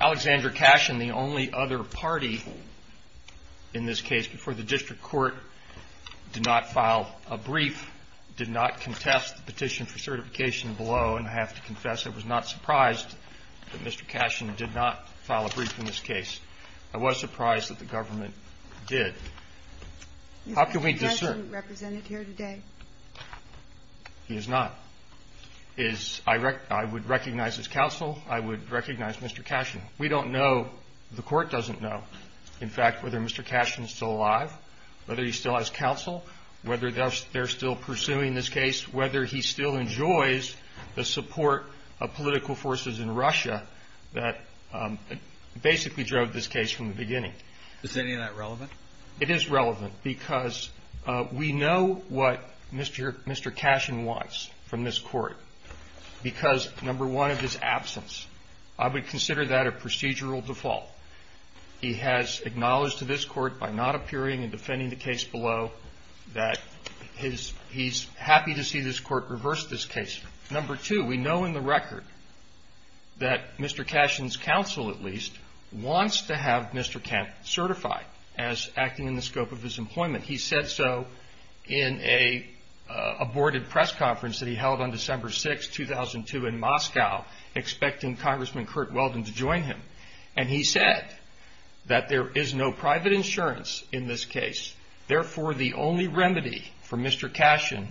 Alexander Cashin, the only other party in this case before the district court, did not file a brief, did not contest the petition for certification below, and I have to confess I was not surprised that Mr. Cashin did not file a brief in this case. I was surprised that the government did. How can we discern? He is not. I would recognize his counsel. I would recognize Mr. Cashin. We don't know, the court doesn't know, in fact, whether Mr. Cashin is still alive, whether he still has counsel, whether they're still pursuing this case, whether he still enjoys the support of political forces in Russia that basically drove this case from the beginning. Is any of that relevant? It is relevant because we know what Mr. Cashin wants from this court because, number one, of his absence. I would consider that a procedural default. He has acknowledged to this court by not appearing and defending the case below that he's happy to see this court reverse this case. Number two, we know in the record that Mr. Cashin's counsel, at least, wants to have Mr. Kent certified as acting in the scope of his employment. He said so in a boarded press conference that he held on December 6, 2002, in Moscow, expecting Congressman Curt Weldon to join him, and he said that there is no private insurance in this case. Therefore, the only remedy for Mr. Cashin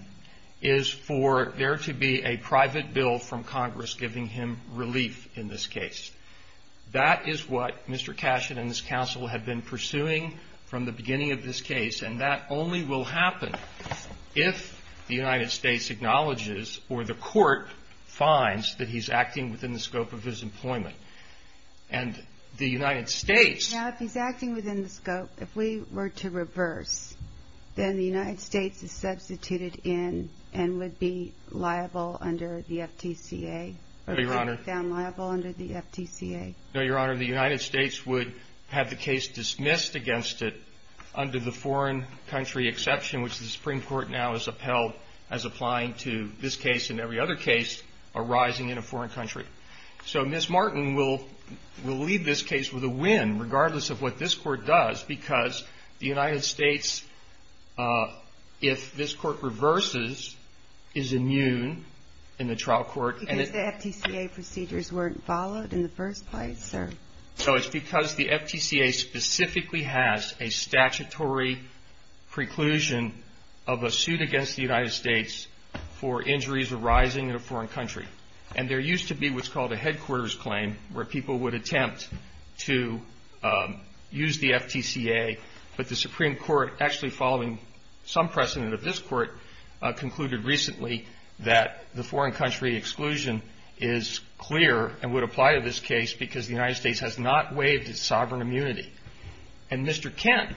is for there to be a private bill from Congress giving him relief in this case. That is what Mr. Cashin and his counsel have been pursuing from the beginning of this case, and that only will happen if the United States acknowledges or the court finds that he's acting within the scope of his employment. And the United States… Now, if he's acting within the scope, if we were to reverse, then the United States is substituted in and would be liable under the FTCA. No, Your Honor. Or would be found liable under the FTCA. No, Your Honor. The United States would have the case dismissed against it under the foreign country exception, which the Supreme Court now has upheld as applying to this case and every other case arising in a foreign country. So Ms. Martin will leave this case with a win, regardless of what this court does, because the United States, if this court reverses, is immune in the trial court… Because the FTCA procedures weren't followed in the first place, sir. So it's because the FTCA specifically has a statutory preclusion of a suit against the United States for injuries arising in a foreign country. And there used to be what's called a headquarters claim, where people would attempt to use the FTCA. But the Supreme Court, actually following some precedent of this court, concluded recently that the foreign country exclusion is clear and would apply to this case because the United States has not waived its sovereign immunity. And Mr. Kent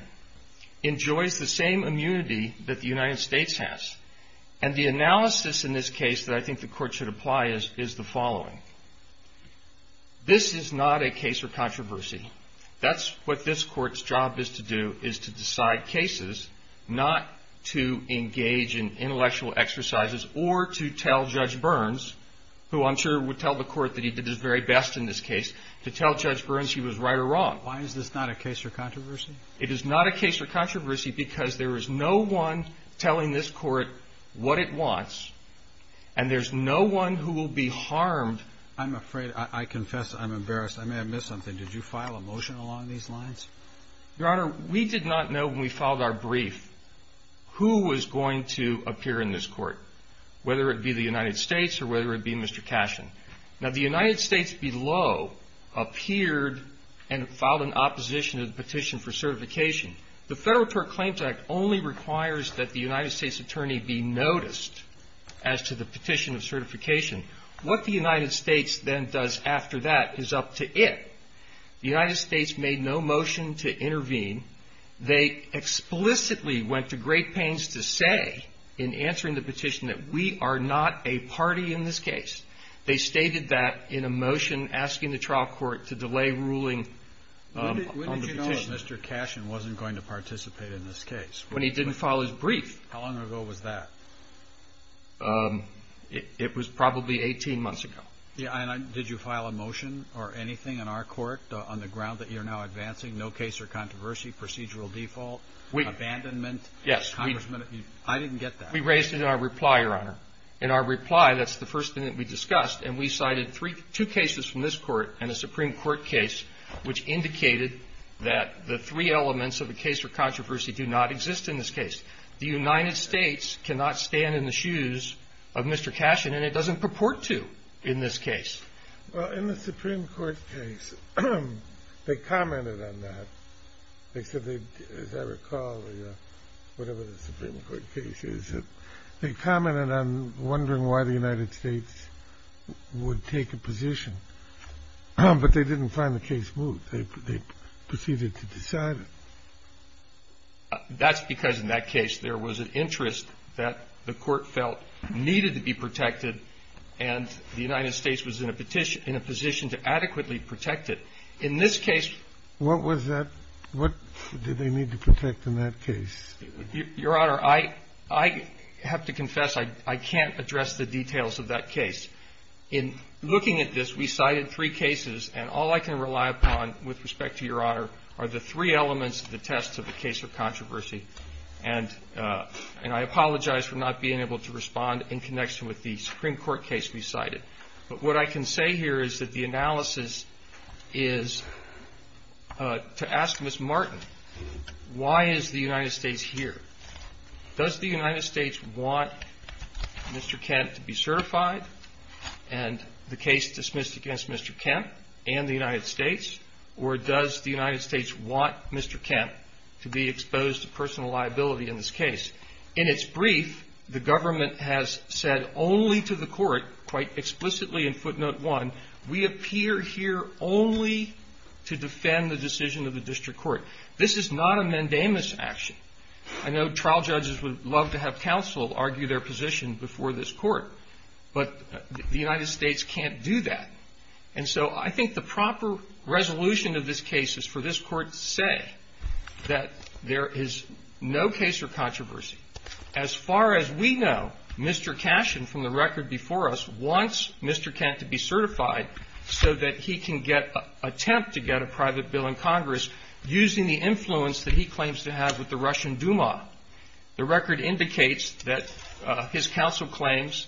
enjoys the same immunity that the United States has. And the analysis in this case that I think the court should apply is the following. This is not a case for controversy. That's what this court's job is to do, is to decide cases, not to engage in intellectual exercises or to tell Judge Burns, who I'm sure would tell the court that he did his very best in this case, to tell Judge Burns he was right or wrong. Why is this not a case for controversy? It is not a case for controversy because there is no one telling this court what it wants, and there's no one who will be harmed… I'm afraid, I confess I'm embarrassed. I may have missed something. Did you file a motion along these lines? Your Honor, we did not know when we filed our brief who was going to appear in this court, whether it be the United States or whether it be Mr. Cashin. Now, the United States below appeared and filed an opposition to the petition for certification. The Federal Tort Claims Act only requires that the United States attorney be noticed as to the petition of certification. What the United States then does after that is up to it. The United States made no motion to intervene. They explicitly went to great pains to say in answering the petition that we are not a party in this case. They stated that in a motion asking the trial court to delay ruling on the petition. So Mr. Cashin wasn't going to participate in this case? When he didn't file his brief. How long ago was that? It was probably 18 months ago. Did you file a motion or anything in our court on the ground that you're now advancing no case or controversy, procedural default, abandonment? Yes. We raised it in our reply, Your Honor. In our reply, that's the first thing that we discussed, and we cited two cases from this court and a Supreme Court case, which indicated that the three elements of a case for controversy do not exist in this case. The United States cannot stand in the shoes of Mr. Cashin, and it doesn't purport to in this case. Well, in the Supreme Court case, they commented on that. They said they, as I recall, whatever the Supreme Court case is, they commented on wondering why the United States would take a position. But they didn't find the case moot. They proceeded to decide it. That's because in that case, there was an interest that the court felt needed to be protected, and the United States was in a position to adequately protect it. In this case. What was that? What did they need to protect in that case? Your Honor, I have to confess I can't address the details of that case. In looking at this, we cited three cases, and all I can rely upon with respect to Your Honor are the three elements of the test of the case of controversy. And I apologize for not being able to respond in connection with the Supreme Court case we cited. But what I can say here is that the analysis is to ask Ms. Martin, why is the United States here? Does the United States want Mr. Kent to be certified and the case dismissed against Mr. Kent and the United States, or does the United States want Mr. Kent to be exposed to personal liability in this case? In its brief, the government has said only to the court, quite explicitly in footnote one, we appear here only to defend the decision of the district court. This is not a mandamus action. I know trial judges would love to have counsel argue their position before this court, but the United States can't do that. And so I think the proper resolution of this case is for this court to say that there is no case As far as we know, Mr. Cashin, from the record before us, wants Mr. Kent to be certified so that he can attempt to get a private bill in Congress using the influence that he claims to have with the Russian Duma. The record indicates that his counsel claims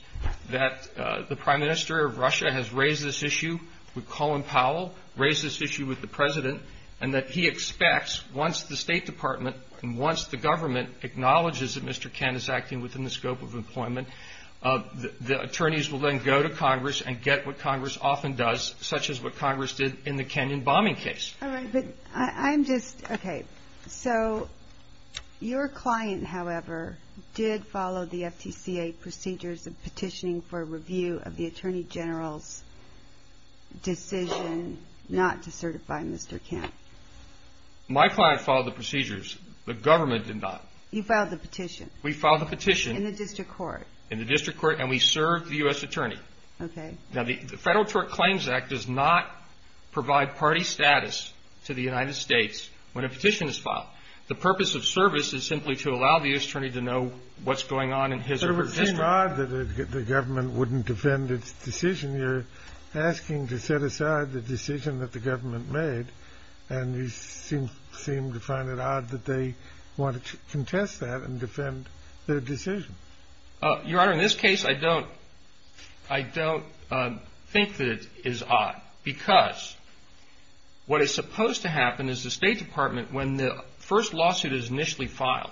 that the Prime Minister of Russia has raised this issue with Colin Powell, raised this issue with the President, and that he expects once the State Department and once the government acknowledges that Mr. Kent is acting within the scope of employment, the attorneys will then go to Congress and get what Congress often does, such as what Congress did in the Kenyon bombing case. All right. But I'm just, okay. So your client, however, did follow the FTCA procedures of petitioning for review of the Attorney General's decision not to certify Mr. Kent. My client followed the procedures. The government did not. You filed the petition. We filed the petition. In the district court. In the district court, and we served the U.S. Attorney. Okay. Now, the Federal Tort Claims Act does not provide party status to the United States when a petition is filed. The purpose of service is simply to allow the U.S. Attorney to know what's going on in his or her district. But it would seem odd that the government wouldn't defend its decision. You're asking to set aside the decision that the government made, and you seem to find it odd that they wanted to contest that and defend their decision. Your Honor, in this case, I don't think that it is odd. Because what is supposed to happen is the State Department, when the first lawsuit is initially filed,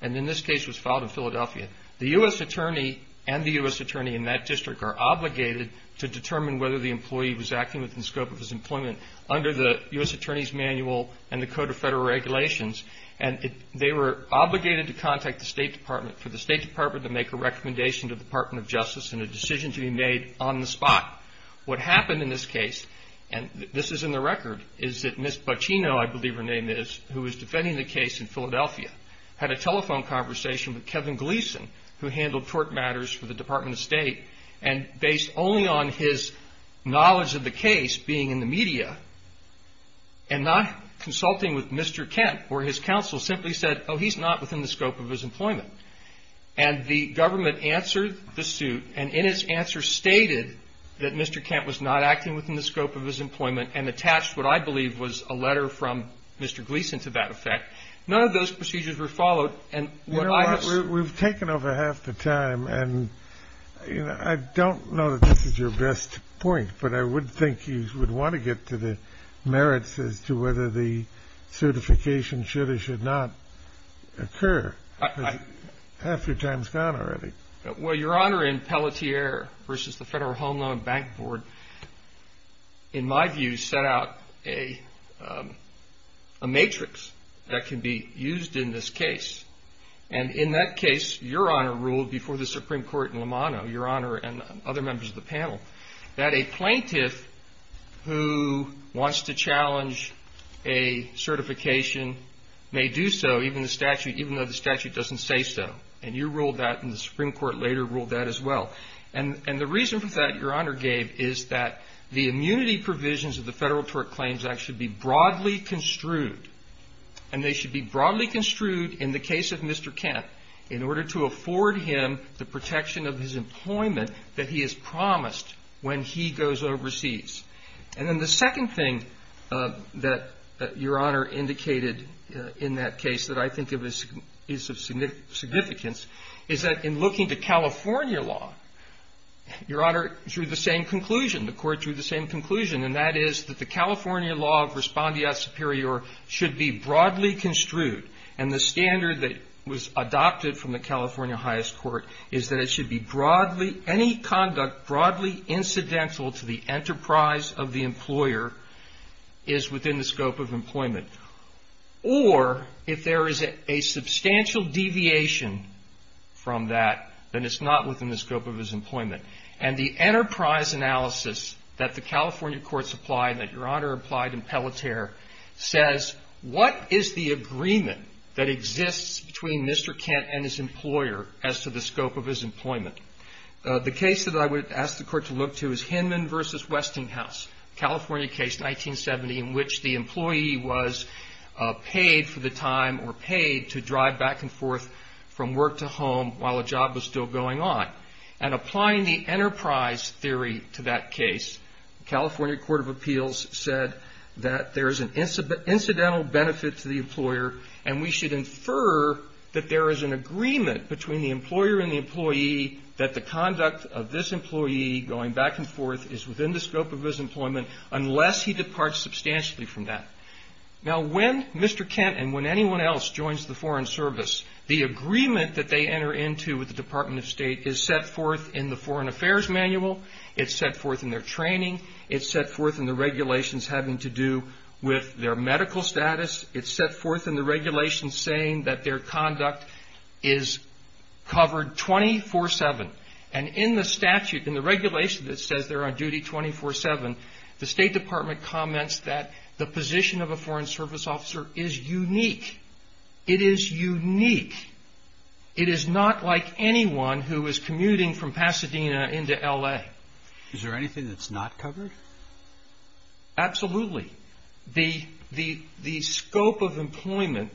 and in this case was filed in Philadelphia, the U.S. Attorney and the U.S. Attorney in that district are obligated to determine whether the employee was acting within the scope of his employment under the U.S. Attorney's Manual and the Code of Federal Regulations. And they were obligated to contact the State Department for the State Department to make a recommendation to the Department of Justice and a decision to be made on the spot. What happened in this case, and this is in the record, is that Ms. Buccino, I believe her name is, who was defending the case in Philadelphia, had a telephone conversation with Kevin Gleason, who handled tort matters for the Department of State. And based only on his knowledge of the case being in the media, and not consulting with Mr. Kent, where his counsel simply said, oh, he's not within the scope of his employment. And the government answered the suit, and in its answer stated that Mr. Kent was not acting within the scope of his employment, and attached what I believe was a letter from Mr. Gleason to that effect. None of those procedures were followed. We've taken over half the time, and I don't know that this is your best point, but I would think you would want to get to the merits as to whether the certification should or should not occur. Half your time is gone already. Well, Your Honor, in Pelletier v. the Federal Home Loan and Bank Board, in my view, set out a matrix that can be used in this case. And in that case, Your Honor ruled before the Supreme Court in Lomano, Your Honor and other members of the panel, that a plaintiff who wants to challenge a certification may do so, even though the statute doesn't say so. And you ruled that, and the Supreme Court later ruled that as well. And the reason for that Your Honor gave is that the immunity provisions of the Federal Tort Claims Act should be broadly construed, and they should be broadly construed in the case of Mr. Kent in order to afford him the protection of his employment that he has promised when he goes overseas. And then the second thing that Your Honor indicated in that case that I think is of significance is that in looking to California law, Your Honor drew the same conclusion. The Court drew the same conclusion, and that is that the California law of respondeat superior should be broadly construed. And the standard that was adopted from the California highest court is that it should be broadly, any conduct broadly incidental to the enterprise of the employer is within the scope of employment. Or if there is a substantial deviation from that, then it's not within the scope of his employment. And the enterprise analysis that the California courts applied, that Your Honor applied in Pelleter, says what is the agreement that exists between Mr. Kent and his employer as to the scope of his employment? The case that I would ask the Court to look to is Hinman v. Westinghouse, California case 1970, in which the employee was paid for the time or paid to drive back and forth from work to home while a job was still going on. And applying the enterprise theory to that case, California Court of Appeals said that there is an incidental benefit to the employer, and we should infer that there is an agreement between the employer and the employee that the conduct of this employee going back and forth is within the scope of his employment unless he departs substantially from that. Now, when Mr. Kent and when anyone else joins the Foreign Service, the agreement that they enter into with the Department of State is set forth in the Foreign Affairs Manual. It's set forth in their training. It's set forth in the regulations having to do with their medical status. It's set forth in the regulations saying that their conduct is covered 24-7. And in the statute, in the regulation that says they're on duty 24-7, the State Department comments that the position of a Foreign Service officer is unique. It is unique. It is not like anyone who is commuting from Pasadena into L.A. Is there anything that's not covered? Absolutely. The scope of employment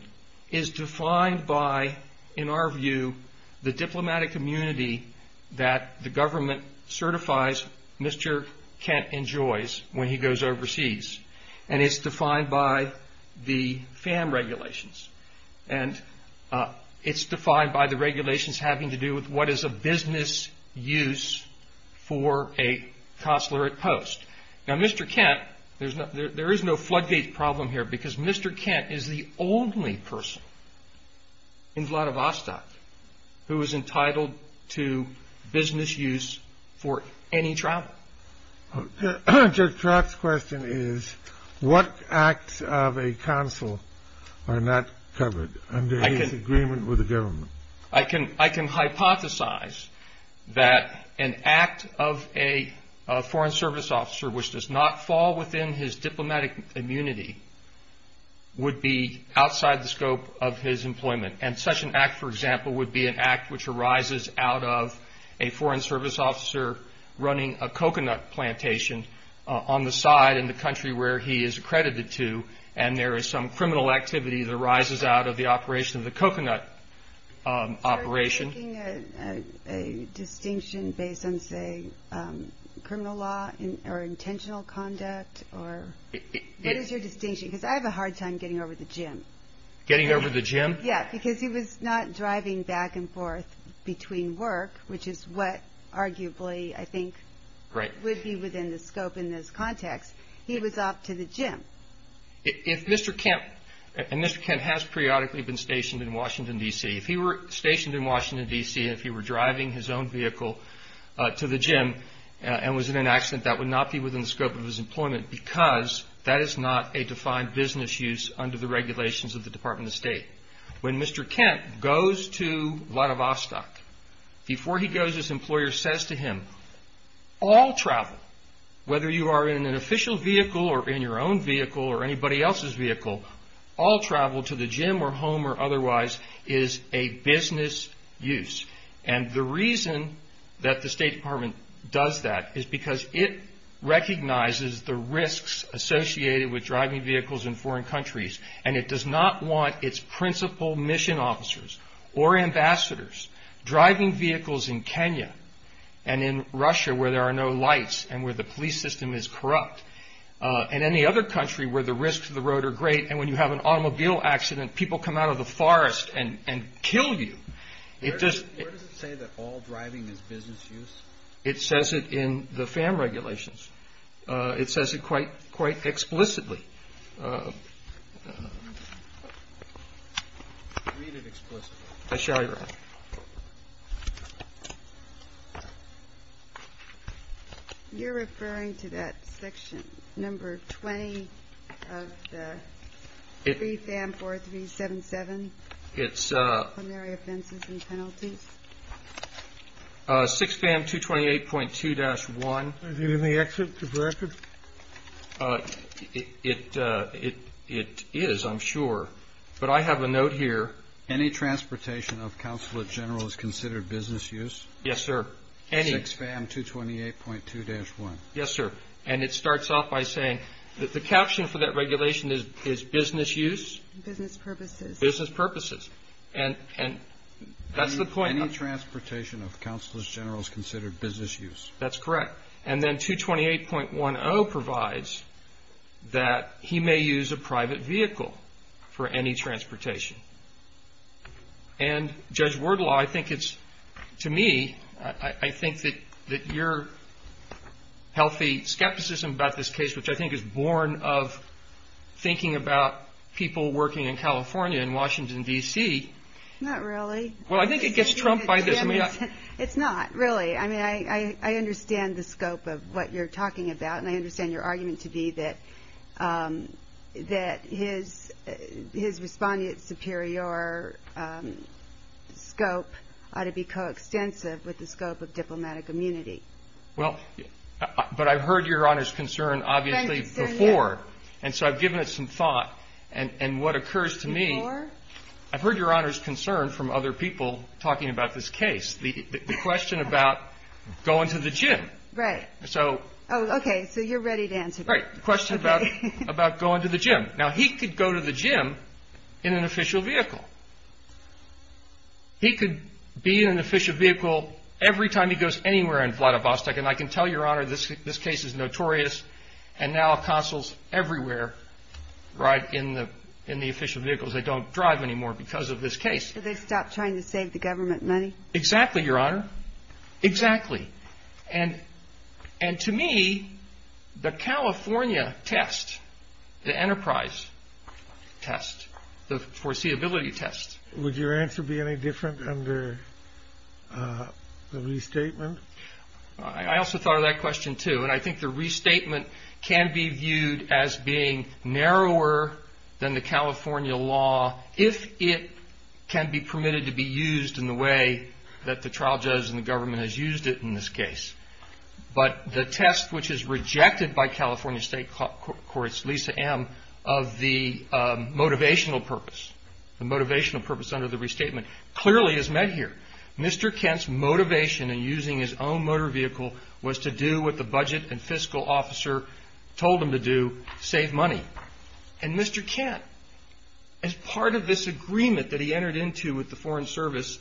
is defined by, in our view, the diplomatic immunity that the government certifies Mr. Kent enjoys when he goes overseas. And it's defined by the FAM regulations. And it's defined by the regulations having to do with what is a business use for a consular at post. Now, Mr. Kent, there is no floodgate problem here because Mr. Kent is the only person in Vladivostok who is entitled to business use for any travel. Judge Trott's question is, what acts of a consul are not covered under his agreement with the government? I can hypothesize that an act of a Foreign Service officer which does not fall within his diplomatic immunity would be outside the scope of his employment. And such an act, for example, would be an act which arises out of a Foreign Service officer running a coconut plantation on the side in the country where he is accredited to, and there is some criminal activity that arises out of the operation of the coconut operation. Are you making a distinction based on, say, criminal law or intentional conduct? What is your distinction? Because I have a hard time getting over to the gym. Getting over to the gym? Yeah, because he was not driving back and forth between work, which is what arguably, I think, would be within the scope in this context. He was off to the gym. If Mr. Kent, and Mr. Kent has periodically been stationed in Washington, D.C. If he were stationed in Washington, D.C., and if he were driving his own vehicle to the gym and was in an accident, that would not be within the scope of his employment because that is not a defined business use under the regulations of the Department of State. When Mr. Kent goes to Vladivostok, before he goes, his employer says to him, all travel, whether you are in an official vehicle or in your own vehicle or anybody else's vehicle, all travel to the gym or home or otherwise is a business use. And the reason that the State Department does that is because it recognizes the risks associated with driving vehicles in foreign countries, and it does not want its principal mission officers or ambassadors driving vehicles in Kenya and in Russia, where there are no lights and where the police system is corrupt, and any other country where the risks of the road are great, and when you have an automobile accident, people come out of the forest and kill you. Where does it say that all driving is business use? It says it in the FAM regulations. It says it quite explicitly. Read it explicitly. I shall, Your Honor. You're referring to that section, number 20 of the FAM 4377, primary offenses and penalties? 6 FAM 228.2-1. Is it in the exit record? It is, I'm sure, but I have a note here. Any transportation of consulate general is considered business use? Yes, sir. 6 FAM 228.2-1. Yes, sir. And it starts off by saying that the caption for that regulation is business use? Business purposes. Business purposes. And that's the point. Any transportation of consulate general is considered business use. That's correct. And then 228.10 provides that he may use a private vehicle for any transportation. And, Judge Wardlaw, I think it's, to me, I think that your healthy skepticism about this case, which I think is born of thinking about people working in California and Washington, D.C. Not really. Well, I think it gets trumped by this. It's not, really. I mean, I understand the scope of what you're talking about. And I understand your argument to be that his respondent's superior scope ought to be coextensive with the scope of diplomatic immunity. Well, but I've heard Your Honor's concern, obviously, before. And so I've given it some thought. And what occurs to me, I've heard Your Honor's concern from other people talking about this case. The question about going to the gym. Right. Oh, okay. So you're ready to answer that. Right. The question about going to the gym. Now, he could go to the gym in an official vehicle. He could be in an official vehicle every time he goes anywhere in Vladivostok. And I can tell Your Honor this case is notorious. And now consuls everywhere ride in the official vehicles. They don't drive anymore because of this case. So they stopped trying to save the government money? Exactly, Your Honor. Exactly. And to me, the California test, the enterprise test, the foreseeability test. Would your answer be any different under the restatement? I also thought of that question, too. And I think the restatement can be viewed as being narrower than the California law, if it can be permitted to be used in the way that the trial judge and the government has used it in this case. But the test, which is rejected by California state courts, Lisa M., of the motivational purpose, the motivational purpose under the restatement, clearly is met here. Mr. Kent's motivation in using his own motor vehicle was to do what the budget and fiscal officer told him to do, save money. And Mr. Kent, as part of this agreement that he entered into with the Foreign Service,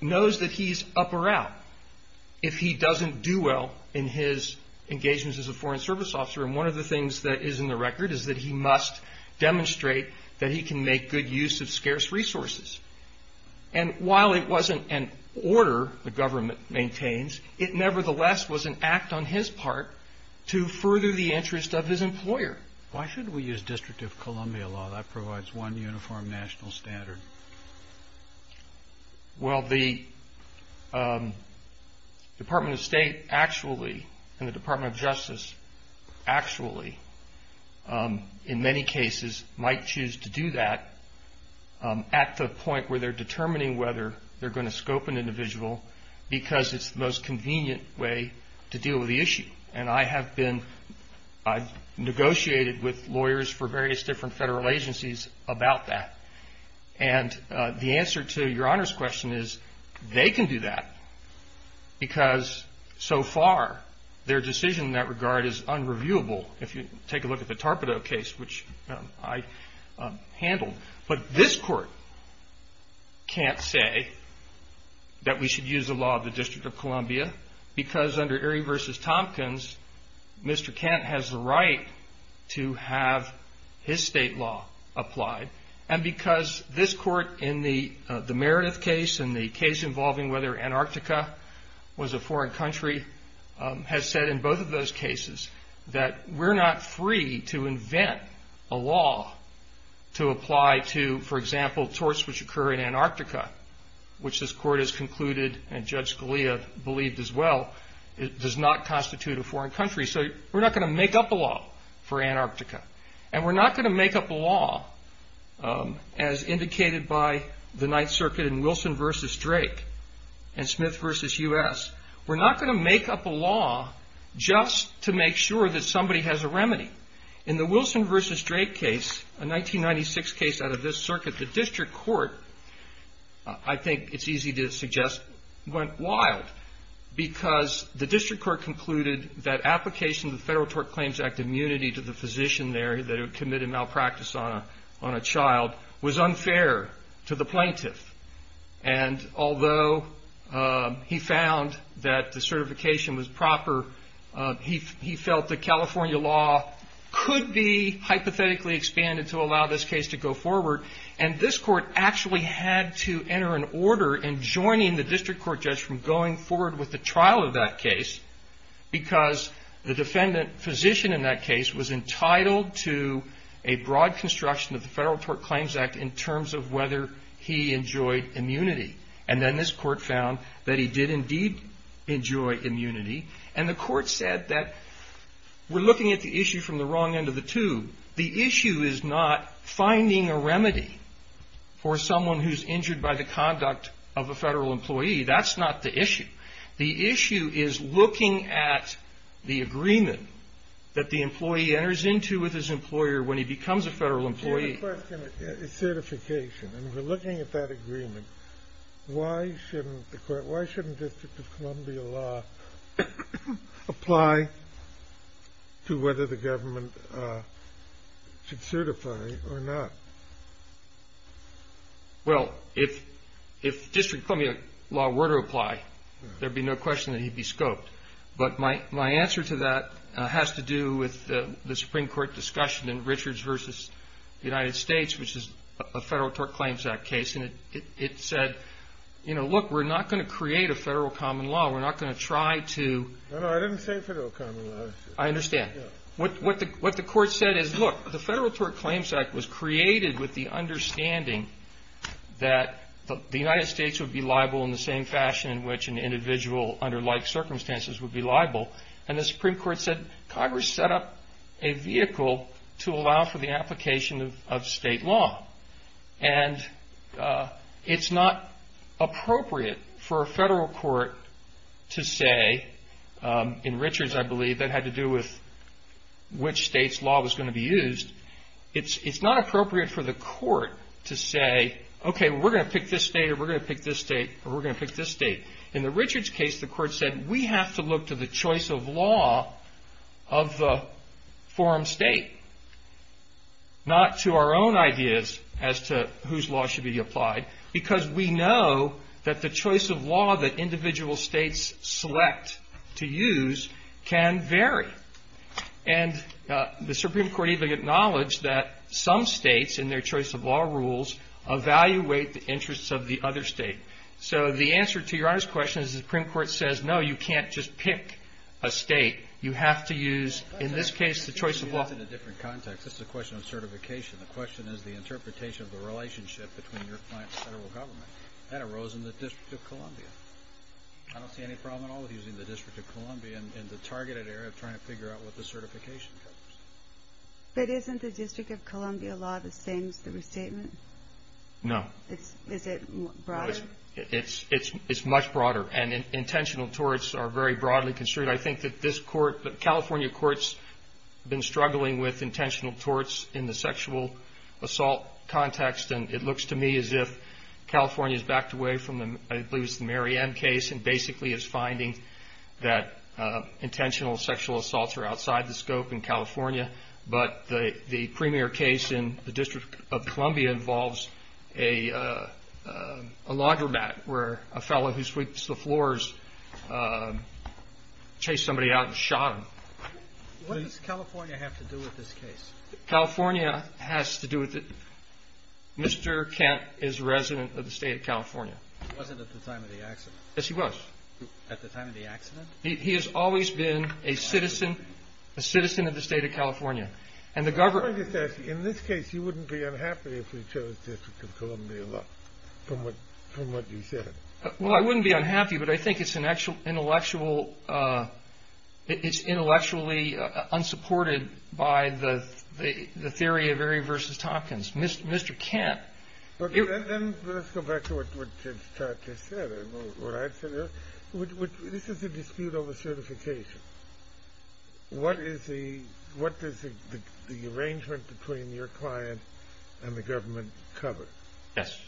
knows that he's up or out if he doesn't do well in his engagements as a Foreign Service officer. And one of the things that is in the record is that he must demonstrate that he can make good use of scarce resources. And while it wasn't an order the government maintains, it nevertheless was an act on his part to further the interest of his employer. Why shouldn't we use district of Columbia law? That provides one uniform national standard. Well, the Department of State actually, and the Department of Justice actually, in many cases, might choose to do that at the point where they're determining whether they're going to scope an individual because it's the most convenient way to deal with the issue. And I've negotiated with lawyers for various different federal agencies about that. And the answer to Your Honor's question is they can do that because so far their decision in that regard is unreviewable. If you take a look at the Tarpedo case, which I handled. But this court can't say that we should use the law of the District of Columbia because under Erie v. Tompkins, Mr. Kent has the right to have his state law applied. And because this court in the Meredith case and the case involving whether Antarctica was a foreign country, has said in both of those cases that we're not free to invent a law to apply to, for example, torts which occur in Antarctica, which this court has concluded and Judge Scalia believed as well, does not constitute a foreign country. So we're not going to make up a law for Antarctica. And we're not going to make up a law as indicated by the Ninth Circuit in Wilson v. Drake and Smith v. U.S. We're not going to make up a law just to make sure that somebody has a remedy. In the Wilson v. Drake case, a 1996 case out of this circuit, the district court, I think it's easy to suggest, went wild. Because the district court concluded that application of the Federal Tort Claims Act immunity to the physician there that had committed malpractice on a child was unfair to the plaintiff. And although he found that the certification was proper, he felt that California law could be hypothetically expanded to allow this case to go forward. And this court actually had to enter an order in joining the district court judge from going forward with the trial of that case, because the defendant physician in that case was entitled to a broad construction of the Federal Tort Claims Act in terms of whether he enjoyed immunity. And then this court found that he did indeed enjoy immunity. And the court said that we're looking at the issue from the wrong end of the tube. The issue is not finding a remedy for someone who's injured by the conduct of a Federal employee. That's not the issue. The issue is looking at the agreement that the employee enters into with his employer when he becomes a Federal employee. The question is certification. And we're looking at that agreement. Why shouldn't the court, why shouldn't District of Columbia law apply to whether the government should certify or not? Well, if District of Columbia law were to apply, there'd be no question that he'd be scoped. But my answer to that has to do with the Supreme Court discussion in Richards v. United States, which is a Federal Tort Claims Act case. And it said, you know, look, we're not going to create a Federal common law. We're not going to try to — No, no, I didn't say Federal common law. I understand. What the court said is, look, the Federal Tort Claims Act was created with the understanding that the United States would be liable in the same fashion in which an individual under like circumstances would be liable. And the Supreme Court said, Congress set up a vehicle to allow for the application of state law. And it's not appropriate for a Federal court to say, in Richards, I believe, that had to do with which state's law was going to be used. It's not appropriate for the court to say, okay, we're going to pick this state or we're going to pick this state or we're going to pick this state. In the Richards case, the court said, we have to look to the choice of law of the forum state, not to our own ideas as to whose law should be applied, because we know that the choice of law that individual states select to use can vary. And the Supreme Court even acknowledged that some states in their choice of law rules evaluate the interests of the other state. So the answer to Your Honor's question is the Supreme Court says, no, you can't just pick a state. You have to use, in this case, the choice of law. But that's in a different context. This is a question of certification. The question is the interpretation of the relationship between your client and Federal government. That arose in the District of Columbia. I don't see any problem at all with using the District of Columbia in the targeted area of trying to figure out what the certification covers. But isn't the District of Columbia law the same as the restatement? No. Is it broader? It's much broader. And intentional torts are very broadly construed. I think that this court, the California courts, have been struggling with intentional torts in the sexual assault context. And it looks to me as if California is backed away from, I believe it's the Mary Ann case, and basically is finding that intentional sexual assaults are outside the scope in California. But the premier case in the District of Columbia involves a laundromat where a fellow who sweeps the floors chased somebody out and shot him. What does California have to do with this case? California has to do with it. Mr. Kent is a resident of the state of California. He wasn't at the time of the accident. Yes, he was. At the time of the accident? He has always been a citizen of the state of California. And the government... In this case, you wouldn't be unhappy if we chose District of Columbia law from what you said. Well, I wouldn't be unhappy, but I think it's intellectually unsupported by the theory of Erie v. Tompkins. Mr. Kent... Let's go back to what Ted Stott just said. This is a dispute over certification. What does the arrangement between your client and the government cover? Yes.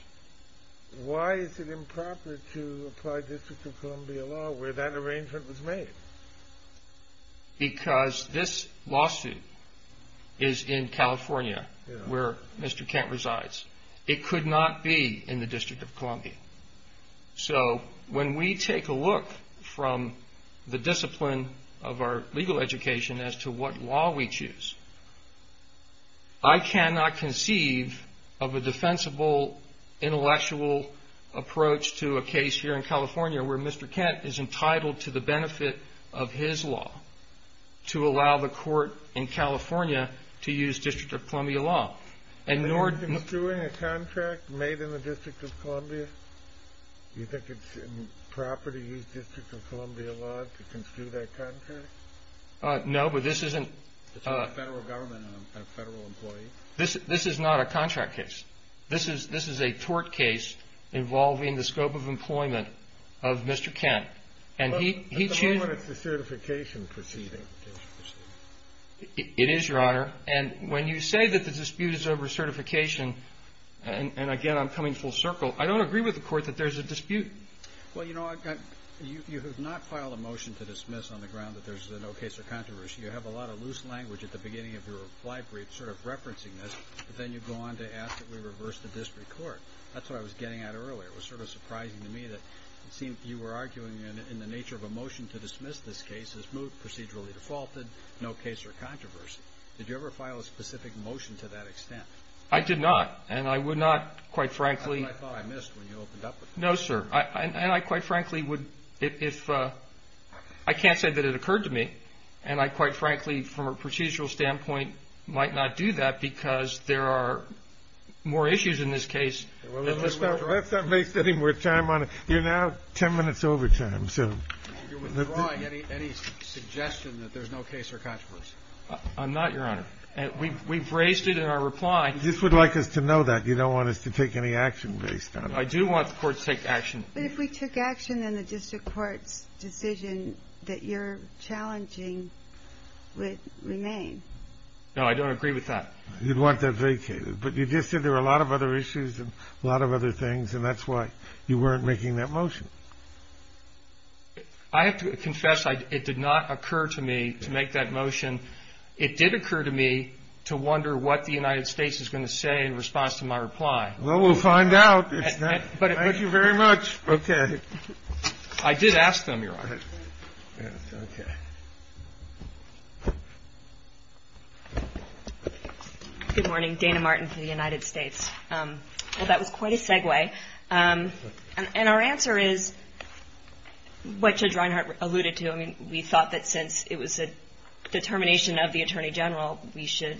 Why is it improper to apply District of Columbia law where that arrangement was made? Because this lawsuit is in California, where Mr. Kent resides. It could not be in the District of Columbia. So when we take a look from the discipline of our legal education as to what law we choose, I cannot conceive of a defensible intellectual approach to a case here in California where Mr. Kent is entitled to the benefit of his law to allow the court in California to use District of Columbia law. Are you construing a contract made in the District of Columbia? Do you think it's improper to use District of Columbia law to construe that contract? No, but this isn't... It's a federal government and a federal employee. This is not a contract case. This is a tort case involving the scope of employment of Mr. Kent. It is, Your Honor. And when you say that the dispute is over certification, and again, I'm coming full circle, I don't agree with the court that there's a dispute. Well, you know, you have not filed a motion to dismiss on the ground that there's no case of controversy. You have a lot of loose language at the beginning of your reply brief sort of referencing this, but then you go on to ask that we reverse the district court. That's what I was getting at earlier. It was sort of surprising to me that it seemed you were arguing in the nature of a motion to dismiss this case that there's no case of controversy. Did you ever file a specific motion to that extent? I did not, and I would not, quite frankly... That's what I thought I missed when you opened up with that. No, sir. And I quite frankly would, if... I can't say that it occurred to me, and I quite frankly, from a procedural standpoint, might not do that because there are more issues in this case. Let's not waste any more time on it. You're now 10 minutes overtime, so... You're withdrawing any suggestion that there's no case of controversy? I'm not, Your Honor. We've raised it in our reply. You just would like us to know that. You don't want us to take any action based on it. I do want the courts to take action. But if we took action, then the district court's decision that you're challenging would remain. No, I don't agree with that. You'd want that vacated. But you just said there were a lot of other issues and a lot of other things, and that's why you weren't making that motion. I have to confess it did not occur to me to make that motion. It did occur to me to wonder what the United States is going to say in response to my reply. Well, we'll find out. Thank you very much. Okay. I did ask them, Your Honor. Okay. Good morning. Dana Martin for the United States. Well, that was quite a segue. And our answer is what Judge Reinhart alluded to. I mean, we thought that since it was a determination of the Attorney General, we should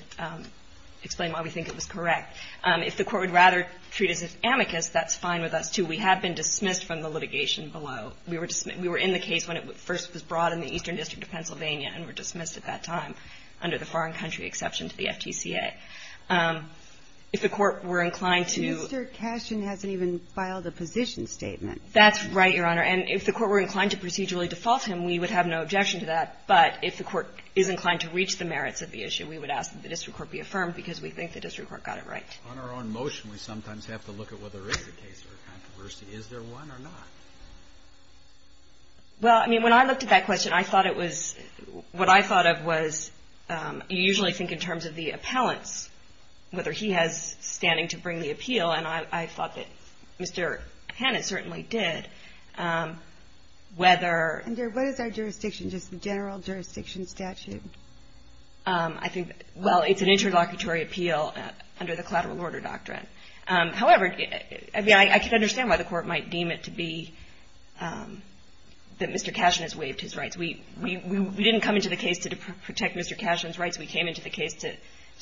explain why we think it was correct. If the court would rather treat us as amicus, that's fine with us, too. We have been dismissed from the litigation below. We were in the case when it first was brought in the Eastern District of Pennsylvania and were dismissed at that time under the foreign country exception to the FTCA. If the court were inclined to — Mr. Cashin hasn't even filed a position statement. That's right, Your Honor. And if the court were inclined to procedurally default him, we would have no objection to that. But if the court is inclined to reach the merits of the issue, we would ask that the district court be affirmed because we think the district court got it right. On our own motion, we sometimes have to look at whether there is a case or a controversy. Is there one or not? Well, I mean, when I looked at that question, I thought it was — what I thought of was, you usually think in terms of the appellants, whether he has standing to bring the appeal, and I thought that Mr. Hannon certainly did, whether — And what is our jurisdiction? Just the general jurisdiction statute? I think — well, it's an interlocutory appeal under the collateral order doctrine. However, I mean, I can understand why the court might deem it to be that Mr. Cashin has waived his rights. We didn't come into the case to protect Mr. Cashin's rights. We came into the case to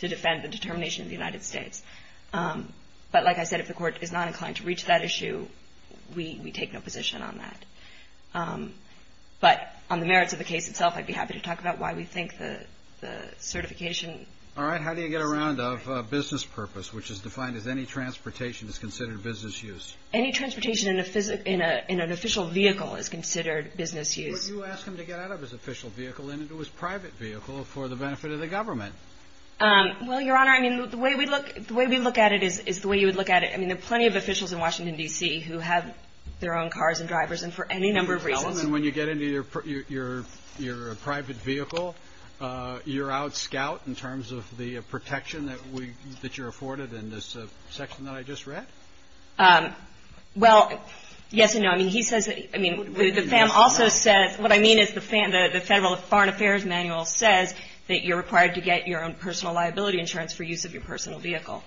defend the determination of the United States. But like I said, if the court is not inclined to reach that issue, we take no position on that. But on the merits of the case itself, I'd be happy to talk about why we think the certification — All right. How do you get around a business purpose, which is defined as any transportation is considered business use? Any transportation in an official vehicle is considered business use. Well, you ask him to get out of his official vehicle and into his private vehicle for the benefit of the government. Well, Your Honor, I mean, the way we look — the way we look at it is the way you would look at it. I mean, there are plenty of officials in Washington, D.C. who have their own cars and drivers, and for any number of reasons — And when you get into your private vehicle, you're out scout in terms of the protection that you're afforded in this section that I just read? Well, yes and no. I mean, he says that — I mean, the FAM also says — what I mean is the Federal Foreign Affairs Manual says that you're required to get your own personal liability insurance for use of your personal vehicle.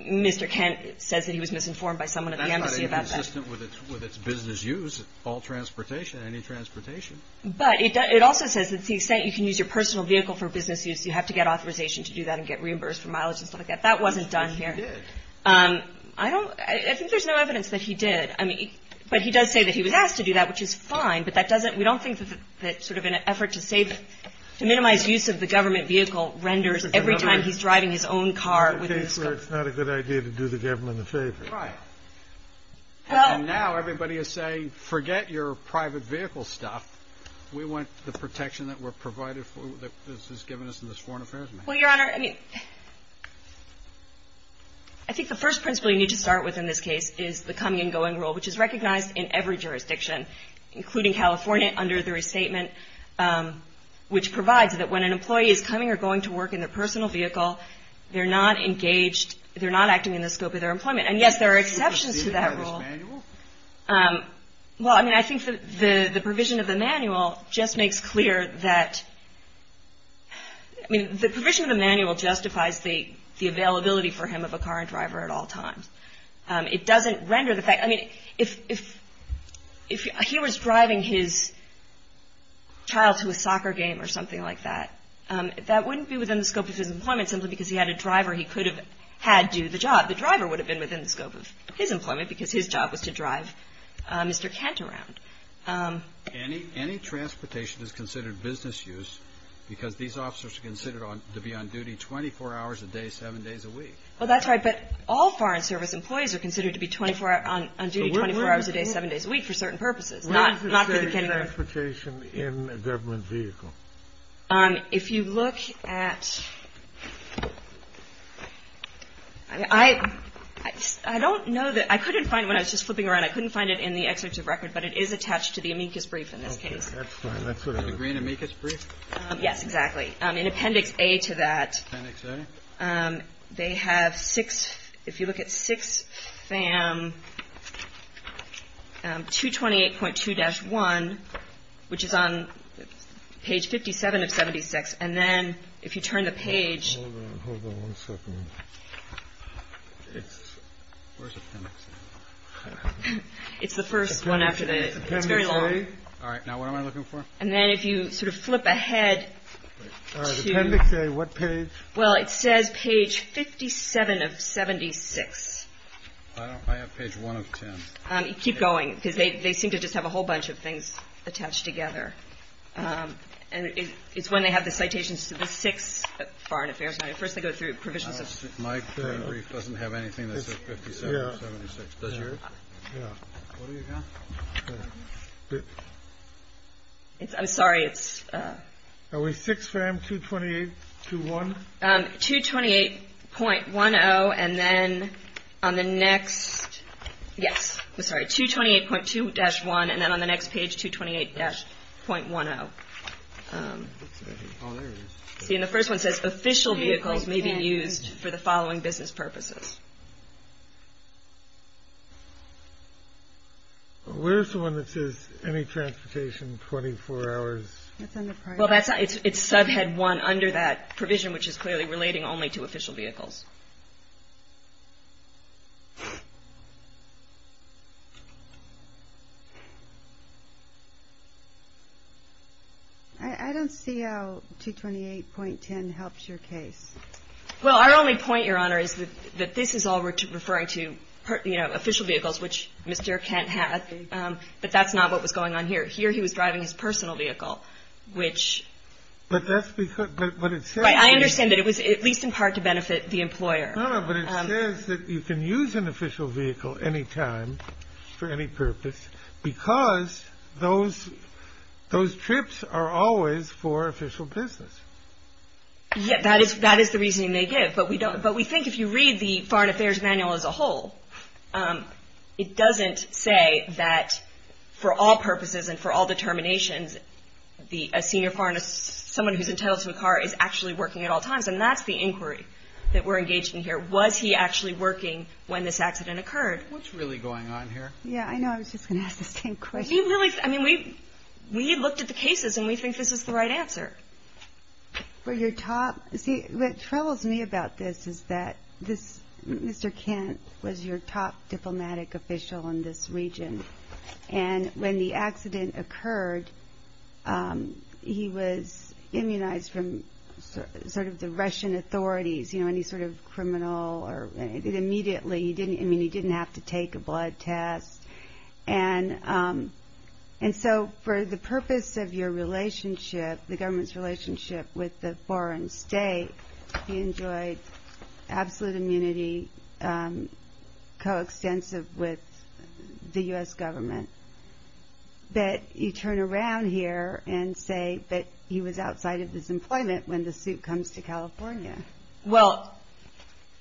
Mr. Kent says that he was misinformed by someone at the embassy about that. That's not inconsistent with its business use, all transportation, any transportation. But it also says that you can use your personal vehicle for business use. You have to get authorization to do that and get reimbursed for mileage and stuff like that. That wasn't done here. Yes, it did. I think there's no evidence that he did. I mean — but he does say that he was asked to do that, which is fine, but that doesn't — we don't think that sort of an effort to save — to minimize use of the government vehicle renders every time he's driving his own car with his — It's not a good idea to do the government a favor. Right. Well — And now everybody is saying, forget your private vehicle stuff. We want the protection that we're provided for — that this has given us in this Foreign Affairs Manual. Well, Your Honor, I mean, I think the first principle you need to start with in this case is the coming and going rule, which is recognized in every jurisdiction, including California, under the restatement, which provides that when an employee is coming or going to work in their personal vehicle, they're not engaged — they're not acting in the scope of their employment. And, yes, there are exceptions to that rule. Do you see that in this manual? Well, I mean, I think the provision of the manual just makes clear that — I mean, the provision of the manual justifies the availability for him of a car and driver at all times. It doesn't render the fact — I mean, if he was driving his child to a soccer game or something like that, that wouldn't be within the scope of his employment simply because he had a driver he could have had do the job. The driver would have been within the scope of his employment because his job was to drive Mr. Kent around. Any transportation is considered business use because these officers are considered Well, that's right. But all Foreign Service employees are considered to be 24 — on duty 24 hours a day, 7 days a week, for certain purposes, not — Where does it say transportation in a government vehicle? If you look at — I don't know that — I couldn't find — when I was just flipping around, I couldn't find it in the executive record, but it is attached to the amicus brief in this case. Okay. That's fine. That's what I was — The green amicus brief? Yes, exactly. In appendix A to that — Appendix A? They have six — if you look at 6 FAM 228.2-1, which is on page 57 of 76, and then if you turn the page — Hold on. Hold on one second. It's — where's appendix A? It's the first one after the — it's very long. Appendix A? All right. Now, what am I looking for? And then if you sort of flip ahead to — Appendix A, what page? Well, it says page 57 of 76. I don't — I have page 1 of 10. Keep going, because they seem to just have a whole bunch of things attached together. And it's when they have the citations to the six foreign affairs — first they go through provisions of — My brief doesn't have anything that says 57 of 76. Does yours? Yeah. What do you got? I'm sorry. It's — Are we 6 FAM 228.2-1? 228.10. And then on the next — yes. I'm sorry. 228.2-1. And then on the next page, 228-.10. Oh, there it is. See, and the first one says, may be used for the following business purposes. Where's the one that says any transportation 24 hours? Well, that's — it's subhead 1 under that provision, which is clearly relating only to official vehicles. I don't see how 228.10 helps your case. Well, our only point, Your Honor, is that this is all referring to, you know, official vehicles, which Mr. Kent had. But that's not what was going on here. Here he was driving his personal vehicle, which — But that's because — but it says — Right. I understand that it was at least in part to benefit the employees. No, no, but it says that you can use an official vehicle any time for any purpose because those trips are always for official business. Yeah, that is the reasoning they give. But we don't — but we think if you read the Foreign Affairs Manual as a whole, it doesn't say that for all purposes and for all determinations, a senior foreigner, someone who's entitled to a car, is actually working at all times. And that's the inquiry that we're engaged in here. Was he actually working when this accident occurred? What's really going on here? Yeah, I know. I was just going to ask the same question. He really — I mean, we looked at the cases, and we think this is the right answer. But your top — see, what troubles me about this is that this — Mr. Kent was your top diplomatic official in this region. And when the accident occurred, he was immunized from sort of the Russian authorities, you know, any sort of criminal or — immediately. I mean, he didn't have to take a blood test. And so for the purpose of your relationship, the government's relationship with the foreign state, he enjoyed absolute immunity, coextensive with the U.S. government. But you turn around here and say that he was outside of his employment when the suit comes to California. Well,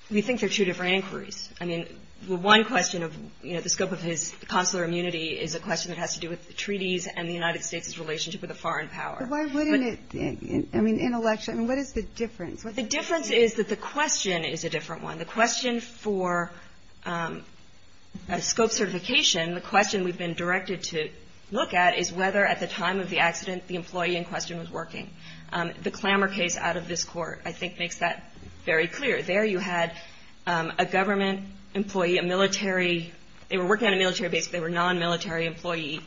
we think they're two different inquiries. I mean, one question of, you know, the scope of his consular immunity is a question that has to do with the treaties and the United States' relationship with the foreign power. But why wouldn't it — I mean, in election — I mean, what is the difference? The difference is that the question is a different one. The question for a scope certification, the question we've been directed to look at, is whether at the time of the accident the employee in question was working. The Clamour case out of this Court, I think, makes that very clear. There you had a government employee, a military — they were working on a military base, but they were a non-military employee,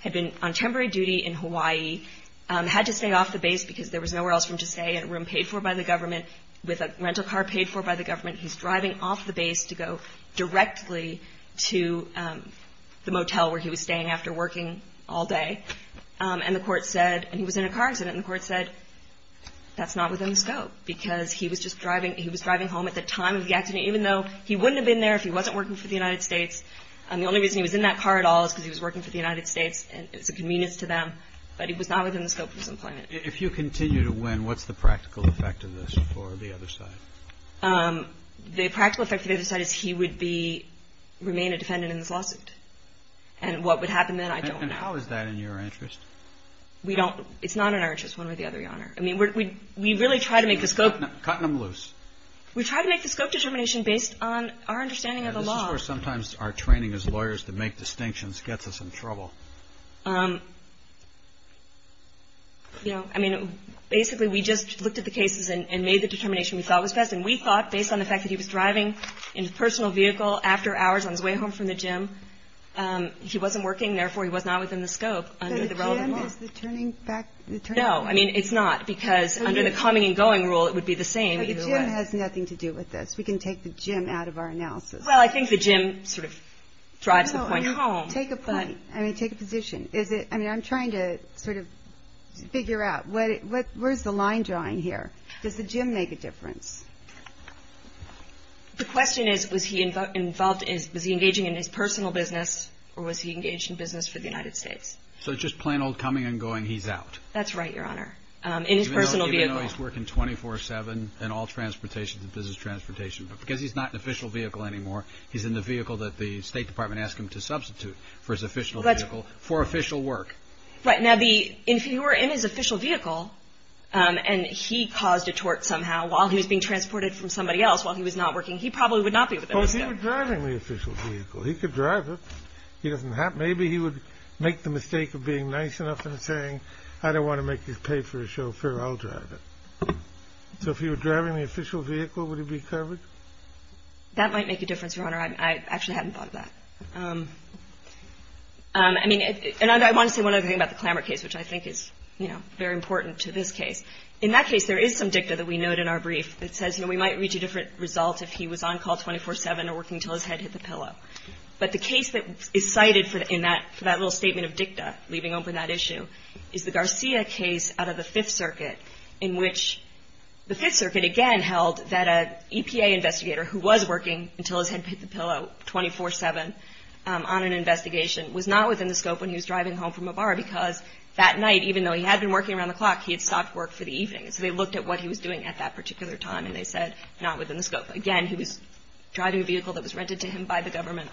had been on temporary duty in Hawaii, had to stay off the base because there was nowhere else for him to stay, in a room paid for by the government, with a rental car paid for by the government. He's driving off the base to go directly to the motel where he was staying after working all day. And the Court said — and he was in a car accident, and the Court said that's not within the scope because he was just driving — he was driving home at the time of the accident, even though he wouldn't have been there if he wasn't working for the United States. The only reason he was in that car at all is because he was working for the United States, and it's a convenience to them, but he was not within the scope of his employment. If you continue to win, what's the practical effect of this for the other side? The practical effect for the other side is he would be — remain a defendant in this lawsuit. And what would happen then, I don't know. And how is that in your interest? We don't — it's not in our interest, one way or the other, Your Honor. I mean, we really try to make the scope — Cutting them loose. We try to make the scope determination based on our understanding of the law. This is where sometimes our training as lawyers to make distinctions gets us in trouble. You know, I mean, basically we just looked at the cases and made the determination we thought was best. And we thought, based on the fact that he was driving in his personal vehicle after hours on his way home from the gym, he wasn't working. Therefore, he was not within the scope under the relevant law. But a gym is the turning back — the turning — No, I mean, it's not, because under the coming and going rule, it would be the same either way. But the gym has nothing to do with this. We can take the gym out of our analysis. Well, I think the gym sort of drives the point home. Take a point. I mean, take a position. Is it — I mean, I'm trying to sort of figure out, where's the line drawing here? Does the gym make a difference? The question is, was he involved — was he engaging in his personal business or was he engaged in business for the United States? So it's just plain old coming and going, he's out. That's right, Your Honor. In his personal vehicle. I know he's working 24-7 in all transportation, the business transportation. But because he's not in official vehicle anymore, he's in the vehicle that the State Department asked him to substitute for his official vehicle for official work. Right. Now, the — if he were in his official vehicle and he caused a tort somehow while he was being transported from somebody else, while he was not working, he probably would not be within the scope. Well, if he were driving the official vehicle, he could drive it. He doesn't have — maybe he would make the mistake of being nice enough and saying, I don't want to make you pay for a chauffeur, I'll drive it. So if he were driving the official vehicle, would he be covered? That might make a difference, Your Honor. I actually hadn't thought of that. I mean, and I want to say one other thing about the Clamour case, which I think is, you know, very important to this case. In that case, there is some dicta that we note in our brief that says, you know, we might reach a different result if he was on call 24-7 or working until his head hit the pillow. But the case that is cited in that — for that little statement of dicta, leaving open that issue, is the Garcia case out of the Fifth Circuit, in which the Fifth Circuit, again, held that an EPA investigator who was working until his head hit the pillow 24-7 on an investigation was not within the scope when he was driving home from a bar, because that night, even though he had been working around the clock, he had stopped work for the evening. So they looked at what he was doing at that particular time, and they said not within the scope. Again, he was driving a vehicle that was rented to him by the government,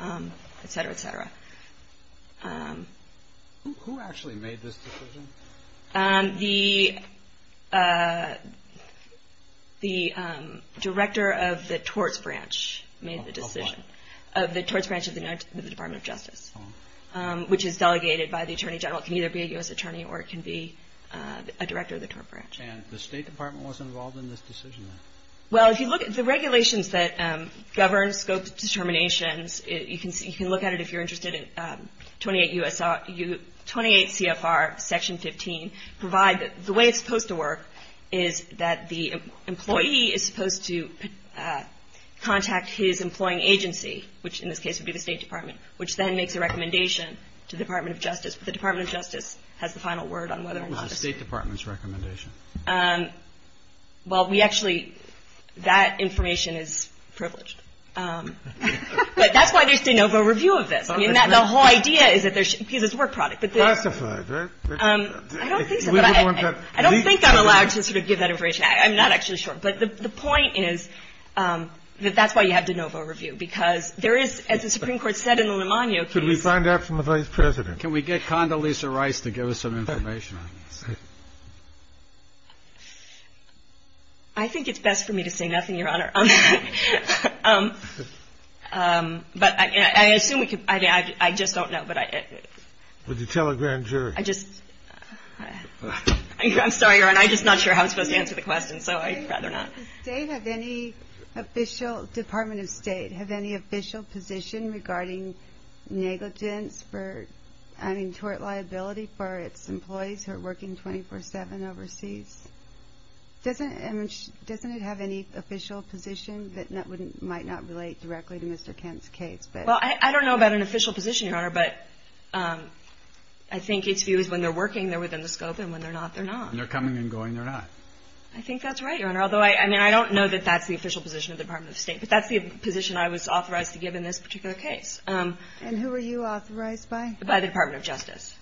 et cetera, et cetera. Who actually made this decision? The Director of the Torts Branch made the decision. Of what? Of the Torts Branch of the Department of Justice, which is delegated by the Attorney General. It can either be a U.S. Attorney or it can be a Director of the Torts Branch. And the State Department was involved in this decision, then? Well, if you look at the regulations that govern scope determinations, you can look at it if you're interested in 28 CFR Section 15, provide that the way it's supposed to work is that the employee is supposed to contact his employing agency, which in this case would be the State Department, which then makes a recommendation to the Department of Justice. But the Department of Justice has the final word on whether or not it's. What was the State Department's recommendation? Well, we actually – that information is privileged. But that's why there's de novo review of this. I mean, the whole idea is that there's – because it's a work product. Classified, right? I don't think so. I don't think I'm allowed to sort of give that information. I'm not actually sure. But the point is that that's why you have de novo review, because there is, as the Supreme Court said in the Limogno case. Could we find out from the Vice President? Can we get Condoleezza Rice to give us some information on this? I think it's best for me to say nothing, Your Honor. But I assume we could – I just don't know. Would you tell a grand jury? I just – I'm sorry, Your Honor. I'm just not sure how I'm supposed to answer the question, so I'd rather not. Does the State have any official – Department of State have any official position regarding negligence for – I mean, tort liability for its employees who are working 24-7 overseas? Doesn't it have any official position that might not relate directly to Mr. Kent's case? Well, I don't know about an official position, Your Honor. But I think its view is when they're working, they're within the scope, and when they're not, they're not. When they're coming and going, they're not. I think that's right, Your Honor. Although, I mean, I don't know that that's the official position of the Department of State, but that's the position I was authorized to give in this particular case. And who are you authorized by? By the Department of Justice.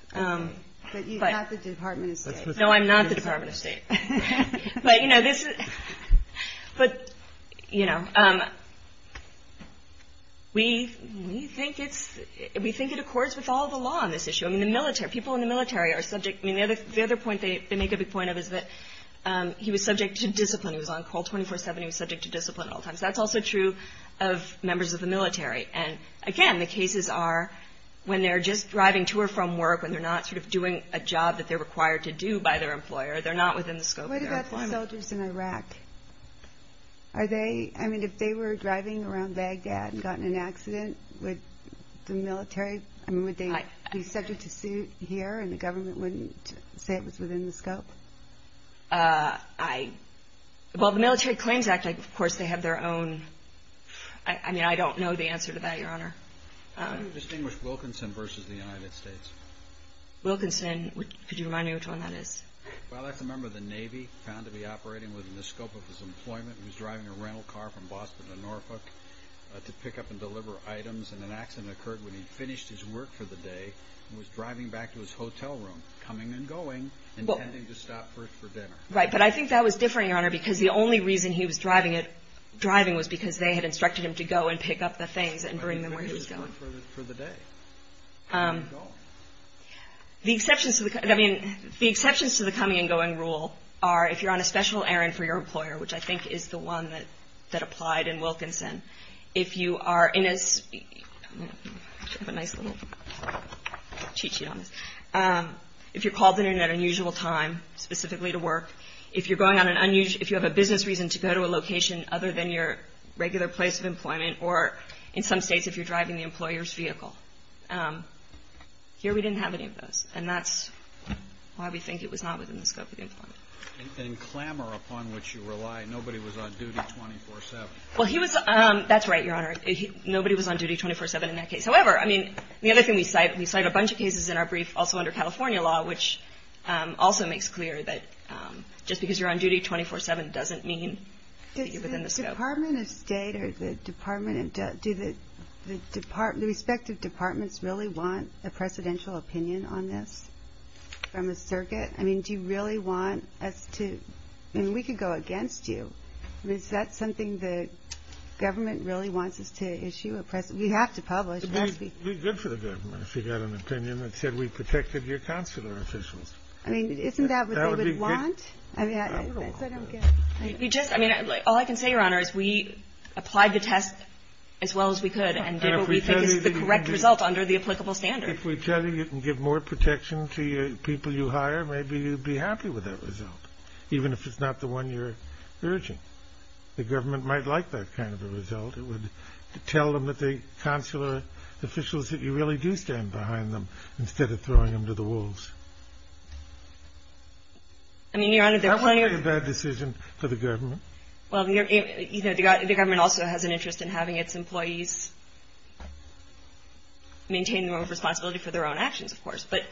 But you're not the Department of State. No, I'm not the Department of State. But, you know, this is – but, you know, we think it's – we think it accords with all the law on this issue. I mean, the military – people in the military are subject – I mean, the other point they make a big point of is that he was subject to discipline. He was on call 24-7. He was subject to discipline at all times. That's also true of members of the military. And, again, the cases are when they're just driving to or from work, when they're not sort of doing a job that they're required to do by their employer, they're not within the scope of their employment. What about the soldiers in Iraq? Are they – I mean, if they were driving around Baghdad and got in an accident, would the military – I mean, would they be subject to suit here and the government wouldn't say it was within the scope? I – well, the Military Claims Act, of course, they have their own – I mean, I don't know the answer to that, Your Honor. How do you distinguish Wilkinson versus the United States? Wilkinson. Could you remind me which one that is? Well, that's a member of the Navy, found to be operating within the scope of his employment. He was driving a rental car from Boston to Norfolk to pick up and deliver items. And an accident occurred when he finished his work for the day and was driving back to his hotel room, coming and going, intending to stop first for dinner. Right. But I think that was different, Your Honor, because the only reason he was driving it – driving was because they had instructed him to go and pick up the things and bring them where he was going. When did he finish his work for the day? Where did he go? The exceptions to the – I mean, the exceptions to the coming and going rule are if you're on a special errand for your employer, which I think is the one that applied in Wilkinson. If you are in a – I have a nice little cheat sheet on this. If you're called in at an unusual time, specifically to work. If you're going on an unusual – if you have a business reason to go to a location other than your regular place of employment or, in some states, if you're driving the employer's vehicle. Here we didn't have any of those. And that's why we think it was not within the scope of the employment. And clamor upon which you rely. Nobody was on duty 24-7. Well, he was – that's right, Your Honor. Nobody was on duty 24-7 in that case. However, I mean, the other thing we cite – we cite a bunch of cases in our brief also under California law, which also makes clear that just because you're on duty 24-7 doesn't mean that you're within the scope. Does the Department of State or the Department of – do the respective departments really want a presidential opinion on this from a circuit? I mean, do you really want us to – I mean, we could go against you. Is that something the government really wants us to issue? We have to publish. It would be good for the government if we got an opinion that said we protected your consular officials. I mean, isn't that what they would want? I mean, that's what I'm getting at. We just – I mean, all I can say, Your Honor, is we applied the test as well as we could and did what we think is the correct result under the applicable standard. If we tell you you can give more protection to the people you hire, maybe you'd be happy with that result, even if it's not the one you're urging. The government might like that kind of a result. It would tell them that the consular officials that you really do stand behind them instead of throwing them to the wolves. That would be a bad decision for the government. Well, you know, the government also has an interest in having its employees maintain more responsibility for their own actions, of course. But,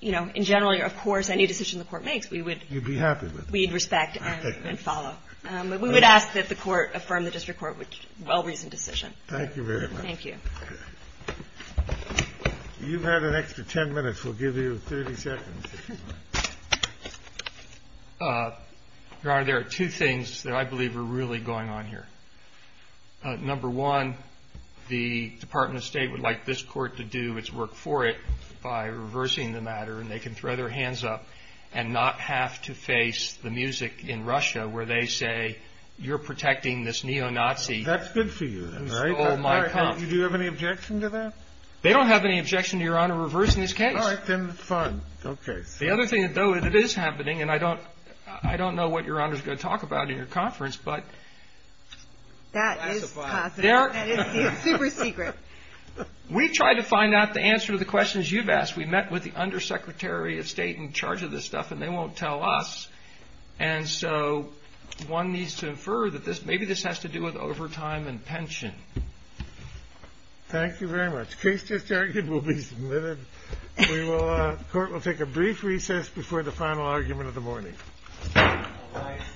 you know, in general, of course, any decision the Court makes, we would – You'd be happy with it. We'd respect and follow. We would ask that the Court affirm the district court's well-reasoned decision. Thank you very much. Thank you. You've had an extra 10 minutes. We'll give you 30 seconds. Your Honor, there are two things that I believe are really going on here. Number one, the Department of State would like this Court to do its work for it by reversing the matter, and they can throw their hands up and not have to face the music in Russia where they say, you're protecting this neo-Nazi. That's good for you, right? Do you have any objection to that? They don't have any objection to Your Honor reversing this case. All right, then, fine. Okay. The other thing, though, is it is happening, and I don't know what Your Honor is going to talk about in your conference, but we tried to find out the answer to the questions you've asked. We met with the Undersecretary of State in charge of this stuff, and they won't tell us, and so one needs to infer that maybe this has to do with overtime and pension. Thank you very much. The case just argued will be submitted. The Court will take a brief recess before the final argument of the morning. All rise.